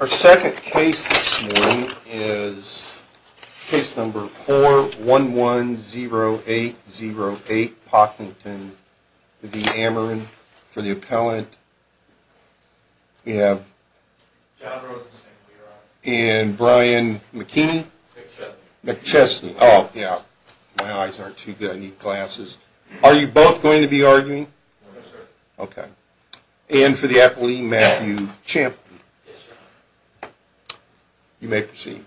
Our second case this morning is case number 4110808, Pocklington v. Ameren. For the appellant, we have John Rosenstein. And Brian McKinney. McChesney. McChesney. Oh, yeah. My eyes aren't too good. I need glasses. Are you both going to be arguing? No, sir. Okay. And for the appellant, Matthew Champton. Yes, sir. You may proceed.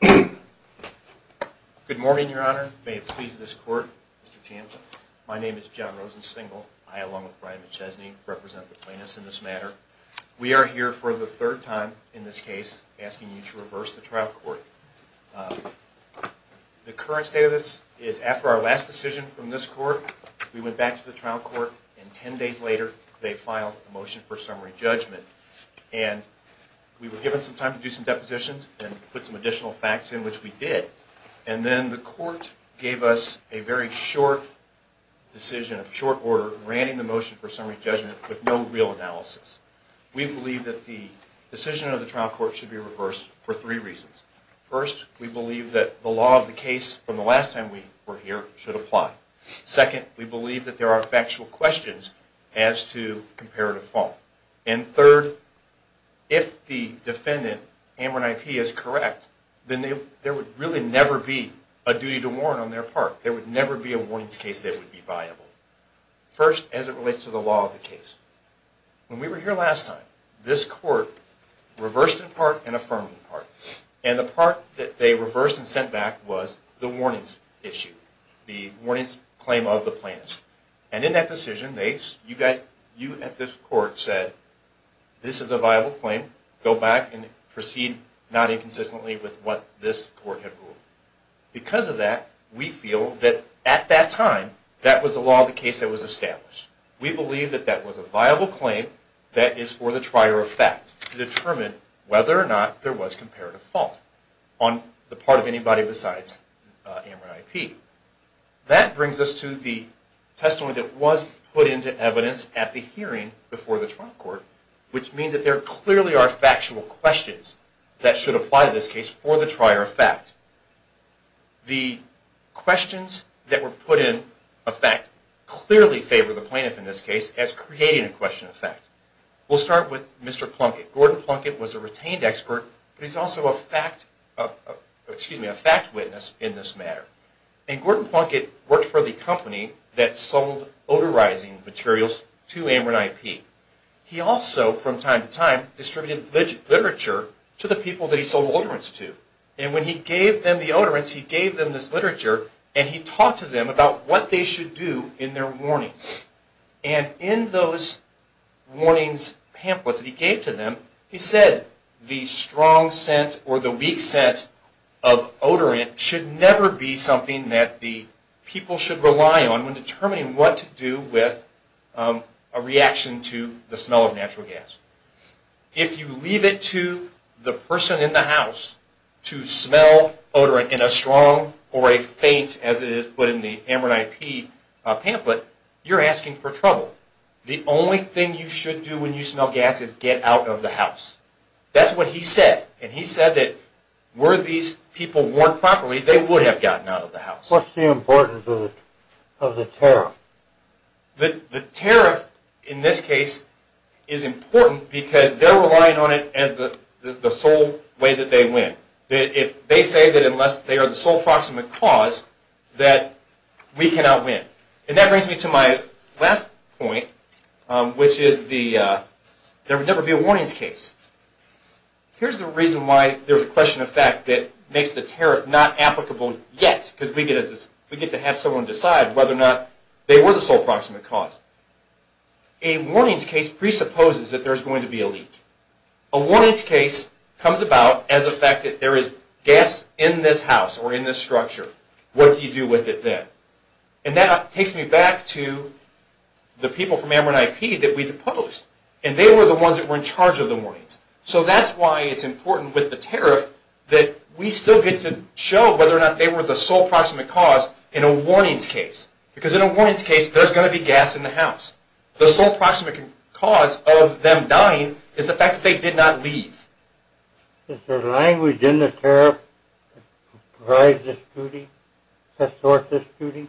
Good morning, Your Honor. May it please this court, Mr. Champton. My name is John Rosenstein. I, along with Brian McChesney, represent the plaintiffs in this matter. We are here for the third time in this case asking you to reverse the trial court. The current state of this is after our last decision from this court, we went back to the trial court and ten days later they filed a motion for summary judgment. And we were given some time to do some depositions and put some additional facts in, which we did. And then the court gave us a very short decision, a short order, granting the motion for summary judgment with no real analysis. We believe that the decision of the trial court should be reversed for three reasons. First, we believe that the law of the case from the last time we were here should apply. Second, we believe that there are factual questions as to comparative fault. And third, if the defendant, Amber and I.P., is correct, then there would really never be a duty to warrant on their part. There would never be a warnings case that would be viable. First, as it relates to the law of the case. When we were here last time, this court reversed in part and affirmed in part. And the part that they reversed and sent back was the warnings issue. The warnings claim of the plaintiff. And in that decision, you at this court said, this is a viable claim. Go back and proceed not inconsistently with what this court had ruled. Because of that, we feel that at that time, that was the law of the case that was established. We believe that that was a viable claim that is for the trier of fact to determine whether or not there was comparative fault on the part of anybody besides Amber and I.P. That brings us to the testimony that was put into evidence at the hearing before the trial court. Which means that there clearly are factual questions that should apply to this case for the trier of fact. The questions that were put in effect clearly favor the plaintiff in this case as creating a question of fact. We'll start with Mr. Plunkett. Gordon Plunkett was a retained expert, but he's also a fact witness in this matter. And Gordon Plunkett worked for the company that sold odorizing materials to Amber and I.P. He also, from time to time, distributed literature to the people that he sold odorants to. And when he gave them the odorants, he gave them this literature and he talked to them about what they should do in their warnings. And in those warnings pamphlets that he gave to them, he said the strong scent or the weak scent of odorant should never be something that the people should rely on when determining what to do with a reaction to the smell of natural gas. If you leave it to the person in the house to smell odorant in a strong or a faint, as it is put in the Amber and I.P. pamphlet, you're asking for trouble. The only thing you should do when you smell gas is get out of the house. That's what he said. And he said that were these people warned properly, they would have gotten out of the house. What's the importance of the tariff? The tariff, in this case, is important because they're relying on it as the sole way that they win. If they say that unless they are the sole proximate cause that we cannot win. And that brings me to my last point, which is there would never be a warnings case. Here's the reason why there's a question of fact that makes the tariff not applicable yet. Because we get to have someone decide whether or not they were the sole proximate cause. A warnings case presupposes that there's going to be a leak. A warnings case comes about as the fact that there is gas in this house or in this structure. What do you do with it then? And that takes me back to the people from Ameren IP that we deposed. And they were the ones that were in charge of the warnings. So that's why it's important with the tariff that we still get to show whether or not they were the sole proximate cause in a warnings case. Because in a warnings case, there's going to be gas in the house. The sole proximate cause of them dying is the fact that they did not leave. Is there language in the tariff that provides this duty? That sorts this duty?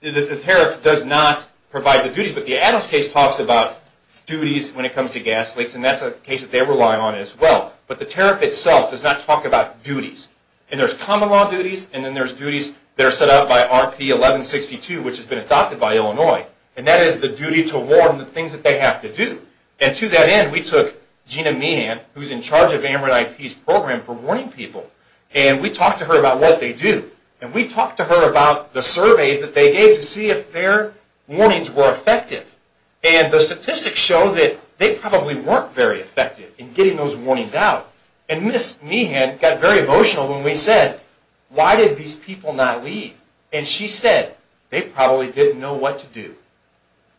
The tariff does not provide the duties. But the Adams case talks about duties when it comes to gas leaks. And that's a case that they rely on as well. But the tariff itself does not talk about duties. And there's common law duties. And then there's duties that are set out by RP 1162, which has been adopted by Illinois. And that is the duty to warn the things that they have to do. And to that end, we took Gina Meehan, who's in charge of Ameren IP's program for warning people, and we talked to her about what they do. And we talked to her about the surveys that they gave to see if their warnings were effective. And the statistics show that they probably weren't very effective in getting those warnings out. And Ms. Meehan got very emotional when we said, why did these people not leave? And she said, they probably didn't know what to do.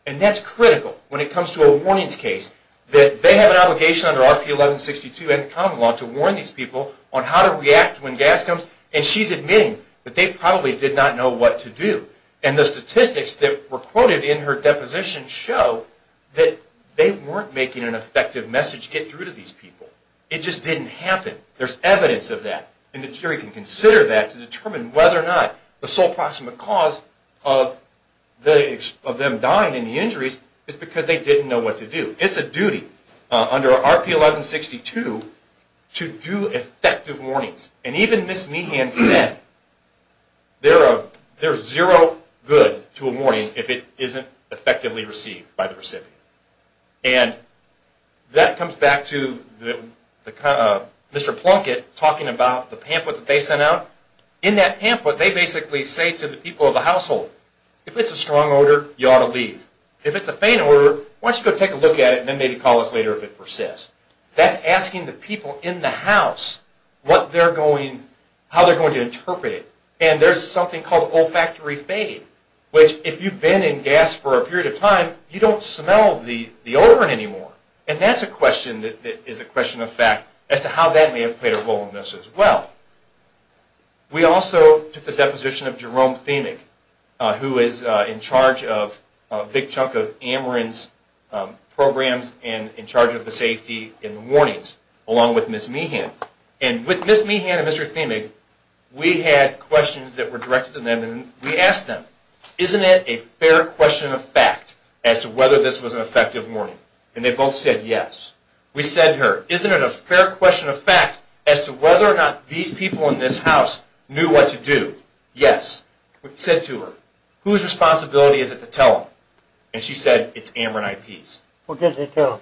And that's critical when it comes to a warnings case, that they have an obligation under RP 1162 and common law to warn these people on how to react when gas comes. And she's admitting that they probably did not know what to do. And the statistics that were quoted in her deposition show that they weren't making an effective message get through to these people. It just didn't happen. There's evidence of that. And the jury can consider that to determine whether or not the sole proximate cause of them dying in the injuries is because they didn't know what to do. It's a duty under RP 1162 to do effective warnings. And even Ms. Meehan said, there's zero good to a warning if it isn't effectively received by the recipient. And that comes back to Mr. Plunkett talking about the pamphlet that they sent out. In that pamphlet, they basically say to the people of the household, if it's a strong odor, you ought to leave. If it's a faint odor, why don't you go take a look at it and then maybe call us later if it persists. That's asking the people in the house how they're going to interpret it. And there's something called olfactory fade, which if you've been in gas for a period of time, you don't smell the odor anymore. And that's a question that is a question of fact as to how that may have played a role in this as well. We also took the deposition of Jerome Themig, who is in charge of a big chunk of Ameren's programs and in charge of the safety and warnings, along with Ms. Meehan. And with Ms. Meehan and Mr. Themig, we had questions that were directed to them. And we asked them, isn't it a fair question of fact as to whether this was an effective warning? And they both said yes. We said to her, isn't it a fair question of fact as to whether or not these people in this house knew what to do? Yes. We said to her, whose responsibility is it to tell them? And she said, it's Ameren IP's. What did they tell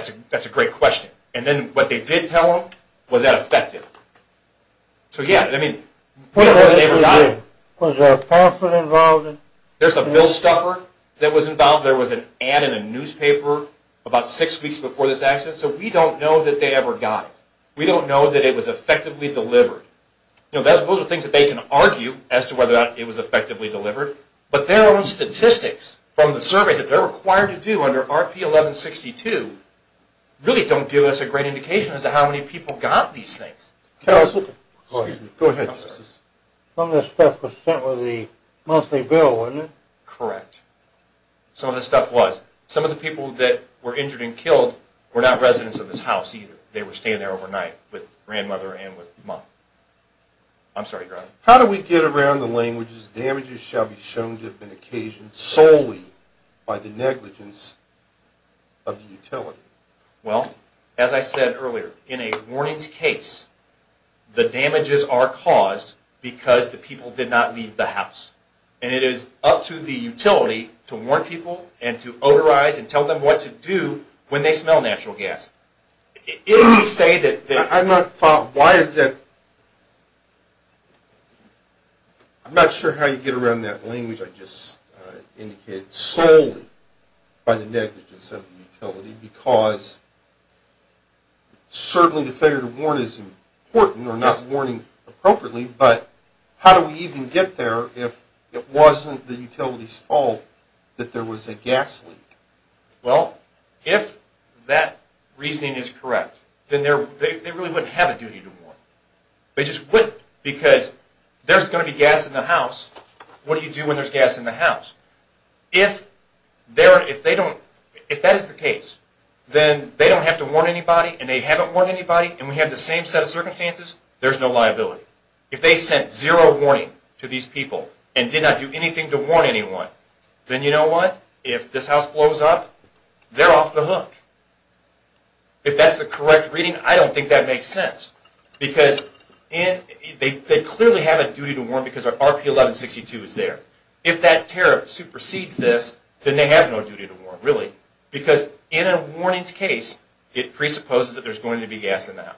them? That's a great question. And then what they did tell them, was that effective? So yeah, I mean, we don't know that they ever got it. Was there a pastor involved? There's a bill stuffer that was involved. There was an ad in a newspaper about six weeks before this accident. So we don't know that they ever got it. We don't know that it was effectively delivered. Those are things that they can argue as to whether or not it was effectively delivered. But their own statistics from the surveys that they're required to do under RP 1162 really don't give us a great indication as to how many people got these things. Go ahead, Justice. Some of this stuff was sent with the monthly bill, wasn't it? Correct. Some of this stuff was. Some of the people that were injured and killed were not residents of this house either. I'm sorry, Your Honor. How do we get around the language, damages shall be shown to have been occasioned solely by the negligence of the utility? Well, as I said earlier, in a warnings case, the damages are caused because the people did not leave the house. And it is up to the utility to warn people and to odorize and tell them what to do when they smell natural gas. I'm not sure how you get around that language I just indicated. Solely by the negligence of the utility because certainly the failure to warn is important or not warning appropriately, but how do we even get there if it wasn't the utility's fault that there was a gas leak? Well, if that reasoning is correct, then they really wouldn't have a duty to warn. They just wouldn't because there's going to be gas in the house. What do you do when there's gas in the house? If that is the case, then they don't have to warn anybody and they haven't warned anybody and we have the same set of circumstances, there's no liability. If they sent zero warning to these people and did not do anything to warn anyone, then you know what? If this house blows up, they're off the hook. If that's the correct reading, I don't think that makes sense because they clearly have a duty to warn because our RP-1162 is there. If that tariff supersedes this, then they have no duty to warn really because in a warnings case, it presupposes that there's going to be gas in the house.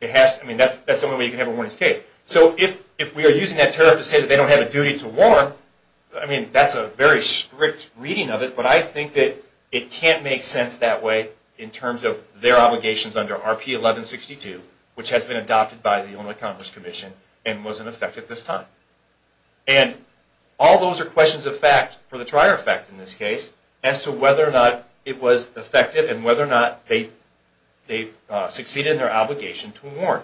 That's the only way you can have a warnings case. So if we are using that tariff to say that they don't have a duty to warn, I mean that's a very strict reading of it, but I think that it can't make sense that way in terms of their obligations under RP-1162, which has been adopted by the Illinois Congress Commission and wasn't effective this time. And all those are questions of fact for the trier effect in this case as to whether or not it was effective and whether or not they succeeded in their obligation to warn.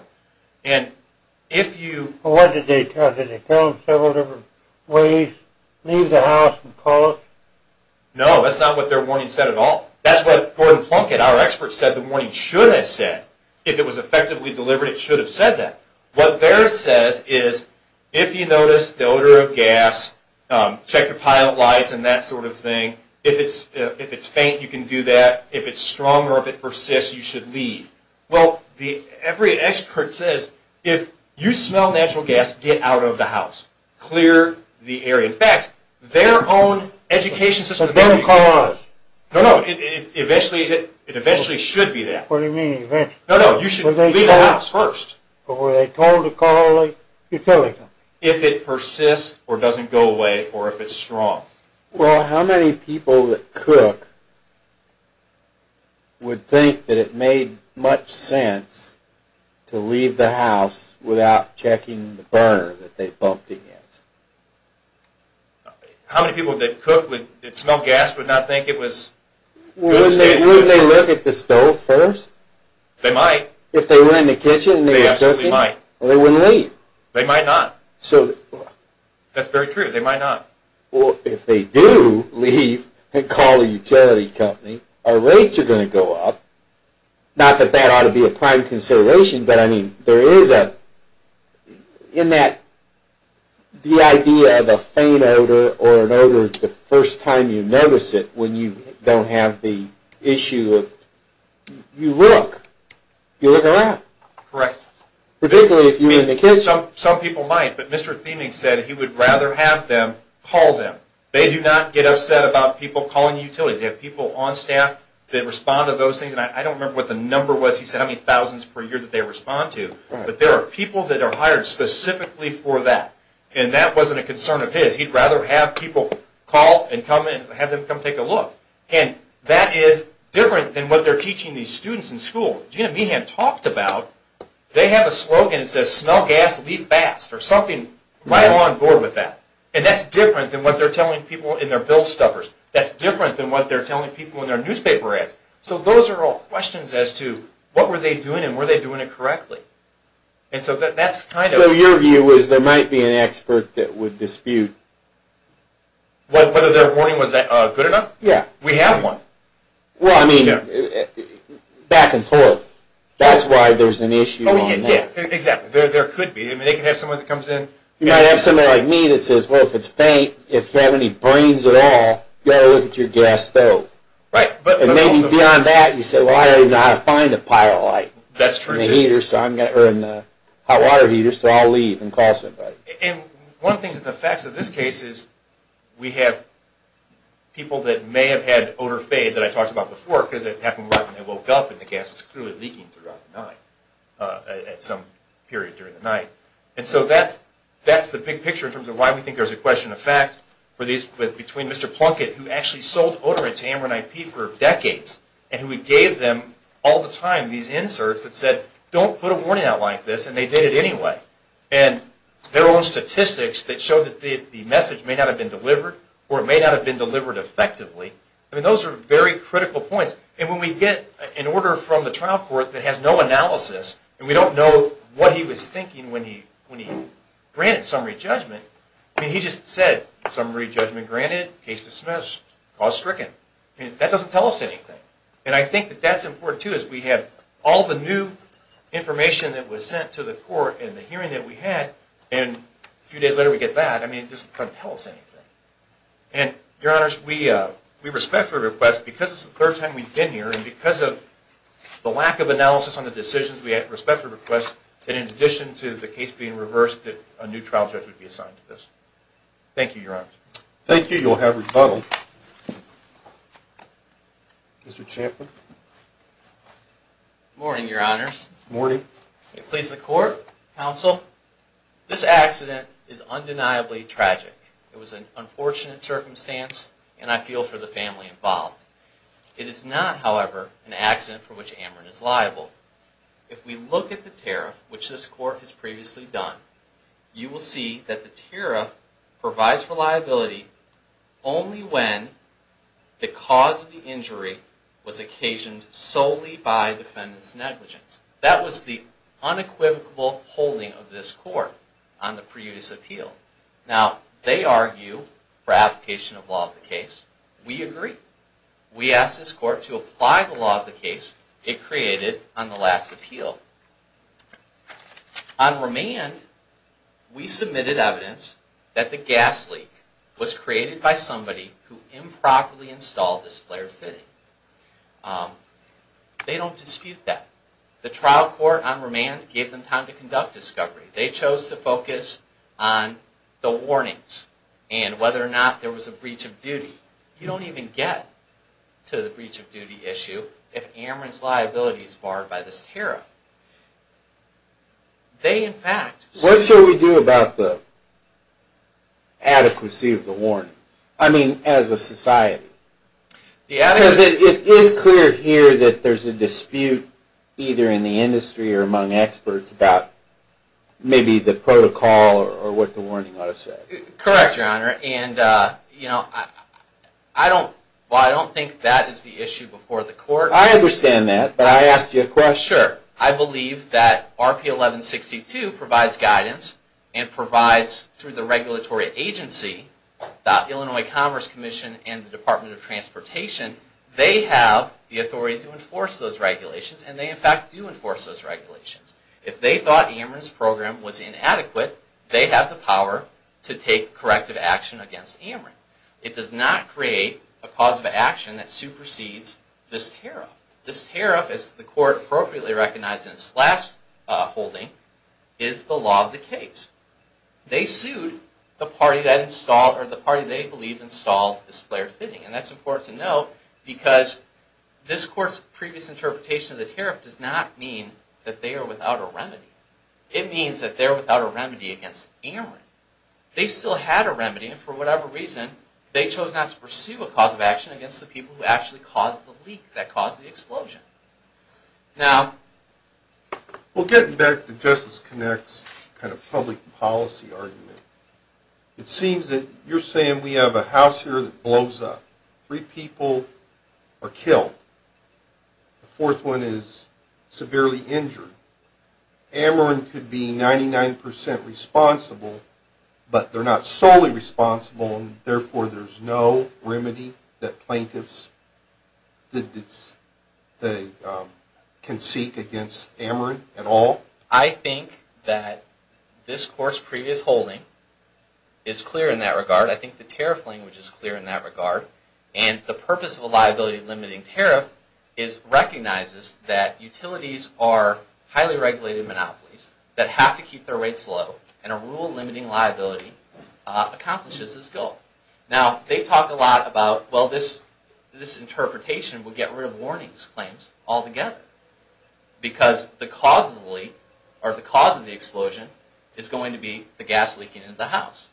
Well, what did they tell us? Did they tell us several different ways? Leave the house and call us? No, that's not what their warning said at all. That's what Gordon Plunkett, our expert, said the warning should have said. If it was effectively delivered, it should have said that. What theirs says is if you notice the odor of gas, check your pilot lights and that sort of thing. If it's faint, you can do that. If it's strong or if it persists, you should leave. Well, every expert says if you smell natural gas, get out of the house. Clear the area. In fact, their own education system tells you that. No, no, it eventually should be that. What do you mean eventually? No, no, you should leave the house first. But were they told to call a utility? If it persists or doesn't go away or if it's strong. Well, how many people that cook would think that it made much sense to leave the house without checking the burner that they bumped against? How many people that cook that smell gas would not think it was good? Wouldn't they look at the stove first? They might. If they were in the kitchen and they were cooking? They absolutely might. They wouldn't leave. They might not. That's very true. They might not. Well, if they do leave and call a utility company, our rates are going to go up. Not that that ought to be a prime consideration, but I mean there is a... in that the idea of a faint odor or an odor the first time you notice it when you don't have the issue of... you look. You look around. Correct. Particularly if you're in the kitchen. Some people might, but Mr. Thieming said he would rather have them call them. They do not get upset about people calling utilities. They have people on staff that respond to those things. And I don't remember what the number was. He said how many thousands per year that they respond to. But there are people that are hired specifically for that. And that wasn't a concern of his. He'd rather have people call and have them come take a look. And that is different than what they're teaching these students in school. People that Gina Behan talked about, they have a slogan that says, Smell gas, leave fast. Or something. I'm on board with that. And that's different than what they're telling people in their bill stuffers. That's different than what they're telling people in their newspaper ads. So those are all questions as to what were they doing and were they doing it correctly. And so that's kind of... So your view is there might be an expert that would dispute... Whether their warning was good enough? Yeah. We have one. Well, I mean, back and forth. That's why there's an issue on that. Yeah, exactly. There could be. They could have someone that comes in... You might have someone like me that says, well, if it's faint, if you have any brains at all, you ought to look at your gas stove. Right. And maybe beyond that, you say, well, I already know how to find a pyrolight. That's true, too. In a heater. Or in a hot water heater. So I'll leave and call somebody. And one of the things, the facts of this case is we have people that may have had an odor fade that I talked about before because it happened right when they woke up and the gas was clearly leaking throughout the night at some period during the night. And so that's the big picture in terms of why we think there's a question of fact between Mr. Plunkett, who actually sold odorant to Amron IP for decades, and who gave them all the time these inserts that said, don't put a warning out like this, and they did it anyway. And their own statistics that show that the message may not have been delivered or it may not have been delivered effectively. I mean, those are very critical points. And when we get an order from the trial court that has no analysis and we don't know what he was thinking when he granted summary judgment, I mean, he just said, summary judgment granted, case dismissed, cause stricken. That doesn't tell us anything. And I think that that's important, too, is we have all the new information that was sent to the court in the hearing that we had, and a few days later we get that. I mean, it doesn't tell us anything. And, Your Honors, we respect your request because it's the third time we've been here and because of the lack of analysis on the decisions, we respect your request, and in addition to the case being reversed, a new trial judge would be assigned to this. Thank you, Your Honors. Thank you. You'll have rebuttal. Mr. Champlin. Good morning, Your Honors. Good morning. It pleases the Court, Counsel. This accident is undeniably tragic. It was an unfortunate circumstance, and I feel for the family involved. It is not, however, an accident for which Ameren is liable. If we look at the tariff, which this Court has previously done, you will see that the tariff provides for liability only when the cause of the injury was occasioned solely by defendant's negligence. That was the unequivocal holding of this Court on the previous appeal. Now, they argue for application of law of the case. We agree. We ask this Court to apply the law of the case it created on the last appeal. On remand, we submitted evidence that the gas leak was created by somebody who improperly installed this flare fitting. They don't dispute that. The trial court on remand gave them time to conduct discovery. They chose to focus on the warnings and whether or not there was a breach of duty. You don't even get to the breach of duty issue if Ameren's liability is barred by this tariff. They, in fact... What should we do about the adequacy of the warnings? I mean, as a society. Because it is clear here that there's a dispute, either in the industry or among experts, about maybe the protocol or what the warning ought to say. Correct, Your Honor. And, you know, I don't think that is the issue before the Court. I understand that, but I asked you a question. Sure. I believe that RP 1162 provides guidance and provides, through the regulatory agency, the Illinois Commerce Commission and the Department of Transportation, they have the authority to enforce those regulations, and they, in fact, do enforce those regulations. If they thought Ameren's program was inadequate, they have the power to take corrective action against Ameren. It does not create a cause of action that supersedes this tariff. This tariff, as the Court appropriately recognized in its last holding, is the law of the case. They sued the party that installed, or the party they believe installed, this flare fitting. And that's important to know, because this Court's previous interpretation of the tariff does not mean that they are without a remedy. It means that they are without a remedy against Ameren. They still had a remedy, and for whatever reason, they chose not to pursue a cause of action against the people who actually caused the leak, that caused the explosion. Now, we'll get back to Justice Connect's kind of public policy argument. It seems that you're saying we have a house here that blows up. Three people are killed. The fourth one is severely injured. Ameren could be 99% responsible, but they're not solely responsible, and therefore there's no remedy that plaintiffs can seek against Ameren at all? I think that this Court's previous holding is clear in that regard. I think the tariff language is clear in that regard. And the purpose of a liability-limiting tariff recognizes that utilities are highly regulated monopolies that have to keep their rates low. And a rule-limiting liability accomplishes this goal. Now, they talk a lot about, well, this interpretation would get rid of warnings claims altogether. Because the cause of the leak, or the cause of the explosion, is going to be the gas leaking into the house.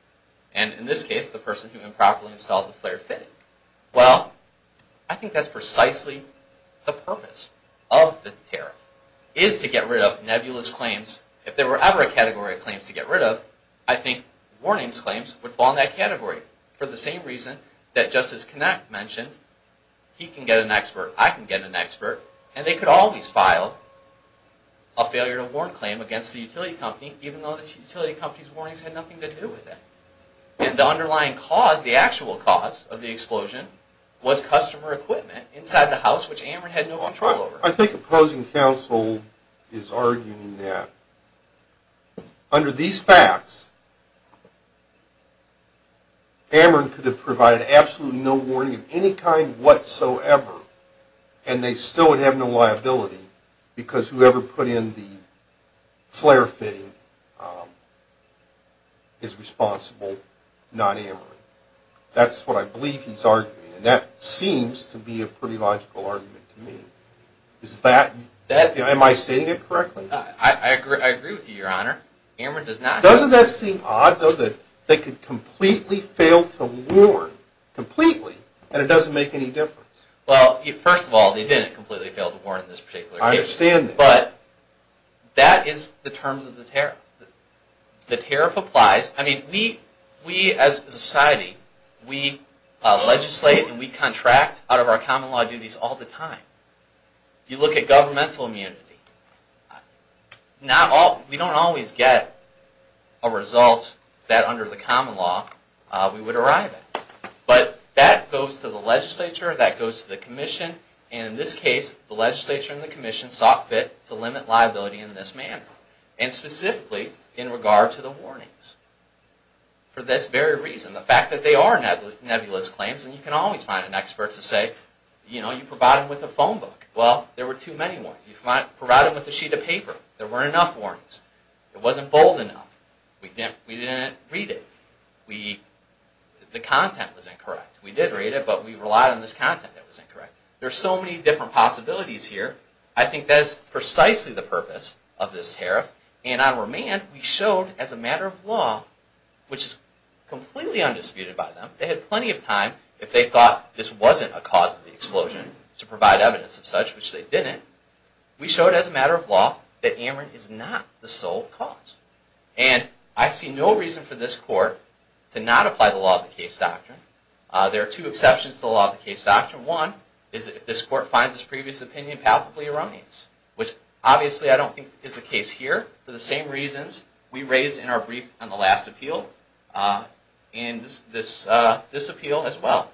And in this case, the person who improperly installed the flare fitting. Well, I think that's precisely the purpose of the tariff, is to get rid of nebulous claims. If there were ever a category of claims to get rid of, I think warnings claims would fall in that category. For the same reason that Justice Knapp mentioned, he can get an expert, I can get an expert, and they could always file a failure to warn claim against the utility company, even though this utility company's warnings had nothing to do with it. And the underlying cause, the actual cause of the explosion, was customer equipment inside the house, which Ameren had no control over. I think opposing counsel is arguing that under these facts, Ameren could have provided absolutely no warning of any kind whatsoever, and they still would have no liability, because whoever put in the flare fitting is responsible, not Ameren. That's what I believe he's arguing, and that seems to be a pretty logical argument to me. Am I stating it correctly? I agree with you, Your Honor. Doesn't that seem odd, though, that they could completely fail to warn, completely, and it doesn't make any difference? Well, first of all, they didn't completely fail to warn in this particular case. I understand that. But that is the terms of the tariff. The tariff applies. I mean, we as a society, we legislate and we contract out of our common law duties all the time. You look at governmental immunity, we don't always get a result that under the common law we would arrive at. But that goes to the legislature, that goes to the commission, and in this case, the legislature and the commission sought fit to limit liability in this manner, and specifically in regard to the warnings, for this very reason. The fact that they are nebulous claims, and you can always find an expert to say, you know, you provide them with a phone book. Well, there were too many warnings. You provide them with a sheet of paper. There weren't enough warnings. It wasn't bold enough. We didn't read it. The content was incorrect. We did read it, but we relied on this content that was incorrect. There are so many different possibilities here. I think that is precisely the purpose of this tariff, and on remand, we showed as a matter of law, which is completely undisputed by them. They had plenty of time. If they thought this wasn't a cause of the explosion, to provide evidence of such, which they didn't, we showed as a matter of law that Amarin is not the sole cause. And I see no reason for this court to not apply the law of the case doctrine. There are two exceptions to the law of the case doctrine. One is that if this court finds this previous opinion palpably erroneous, which obviously I don't think is the case here, for the same reasons we raised in our brief on the last appeal, and this appeal as well.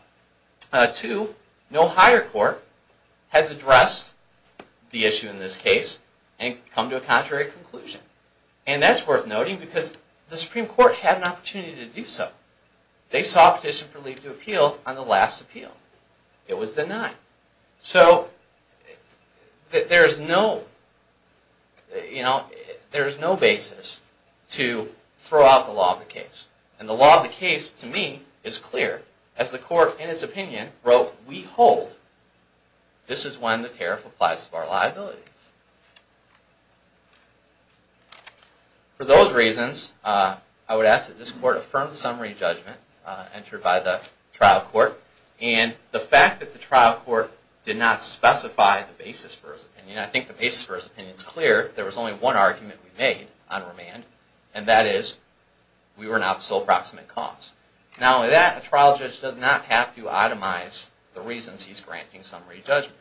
Two, no higher court has addressed the issue in this case and come to a contrary conclusion. And that's worth noting because the Supreme Court had an opportunity to do so. They saw a petition for leave to appeal on the last appeal. It was denied. So there is no basis to throw out the law of the case. And the law of the case, to me, is clear. As the court, in its opinion, wrote, we hold this is when the tariff applies to our liabilities. For those reasons, I would ask that this court affirm the summary judgment entered by the trial court, and the fact that the trial court did not specify the basis for his opinion. I think the basis for his opinion is clear. There was only one argument we made on remand, and that is we were not sole proximate cause. Not only that, a trial judge does not have to itemize the reasons he's granting summary judgment.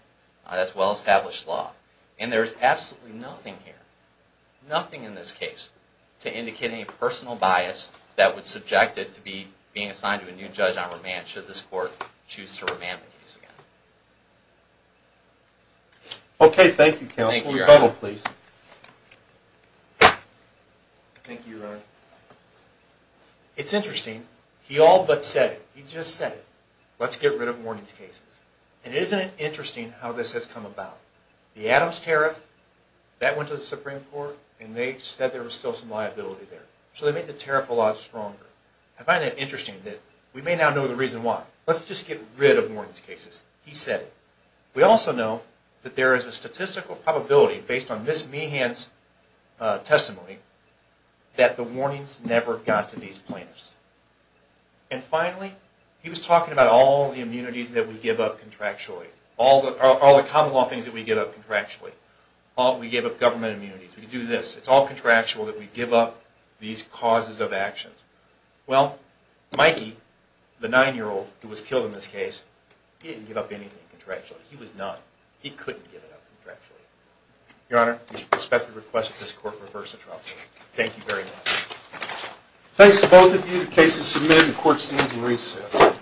That's well-established law. And there's absolutely nothing here, nothing in this case, to indicate any personal bias that would subject it to being assigned to a new judge on remand should this court choose to remand the case again. Okay, thank you, counsel. Thank you, Your Honor. Rebuttal, please. Thank you, Your Honor. It's interesting. He all but said it. He just said it. Let's get rid of warnings cases. And isn't it interesting how this has come about? The Adams tariff, that went to the Supreme Court, and they said there was still some liability there. So they made the tariff a lot stronger. I find it interesting that we may now know the reason why. Let's just get rid of warnings cases. He said it. We also know that there is a statistical probability, based on Ms. Meehan's testimony, that the warnings never got to these plaintiffs. And finally, he was talking about all the immunities that we give up contractually, all the common law things that we give up contractually, all that we give up government immunities. We do this. It's all contractual that we give up these causes of action. Well, Mikey, the 9-year-old who was killed in this case, he didn't give up anything contractually. He was not. He couldn't give it up contractually. Your Honor, we suspect the request of this Court refers to Trump. Thank you very much. Thanks to both of you. The case is submitted. The Court stands in recess.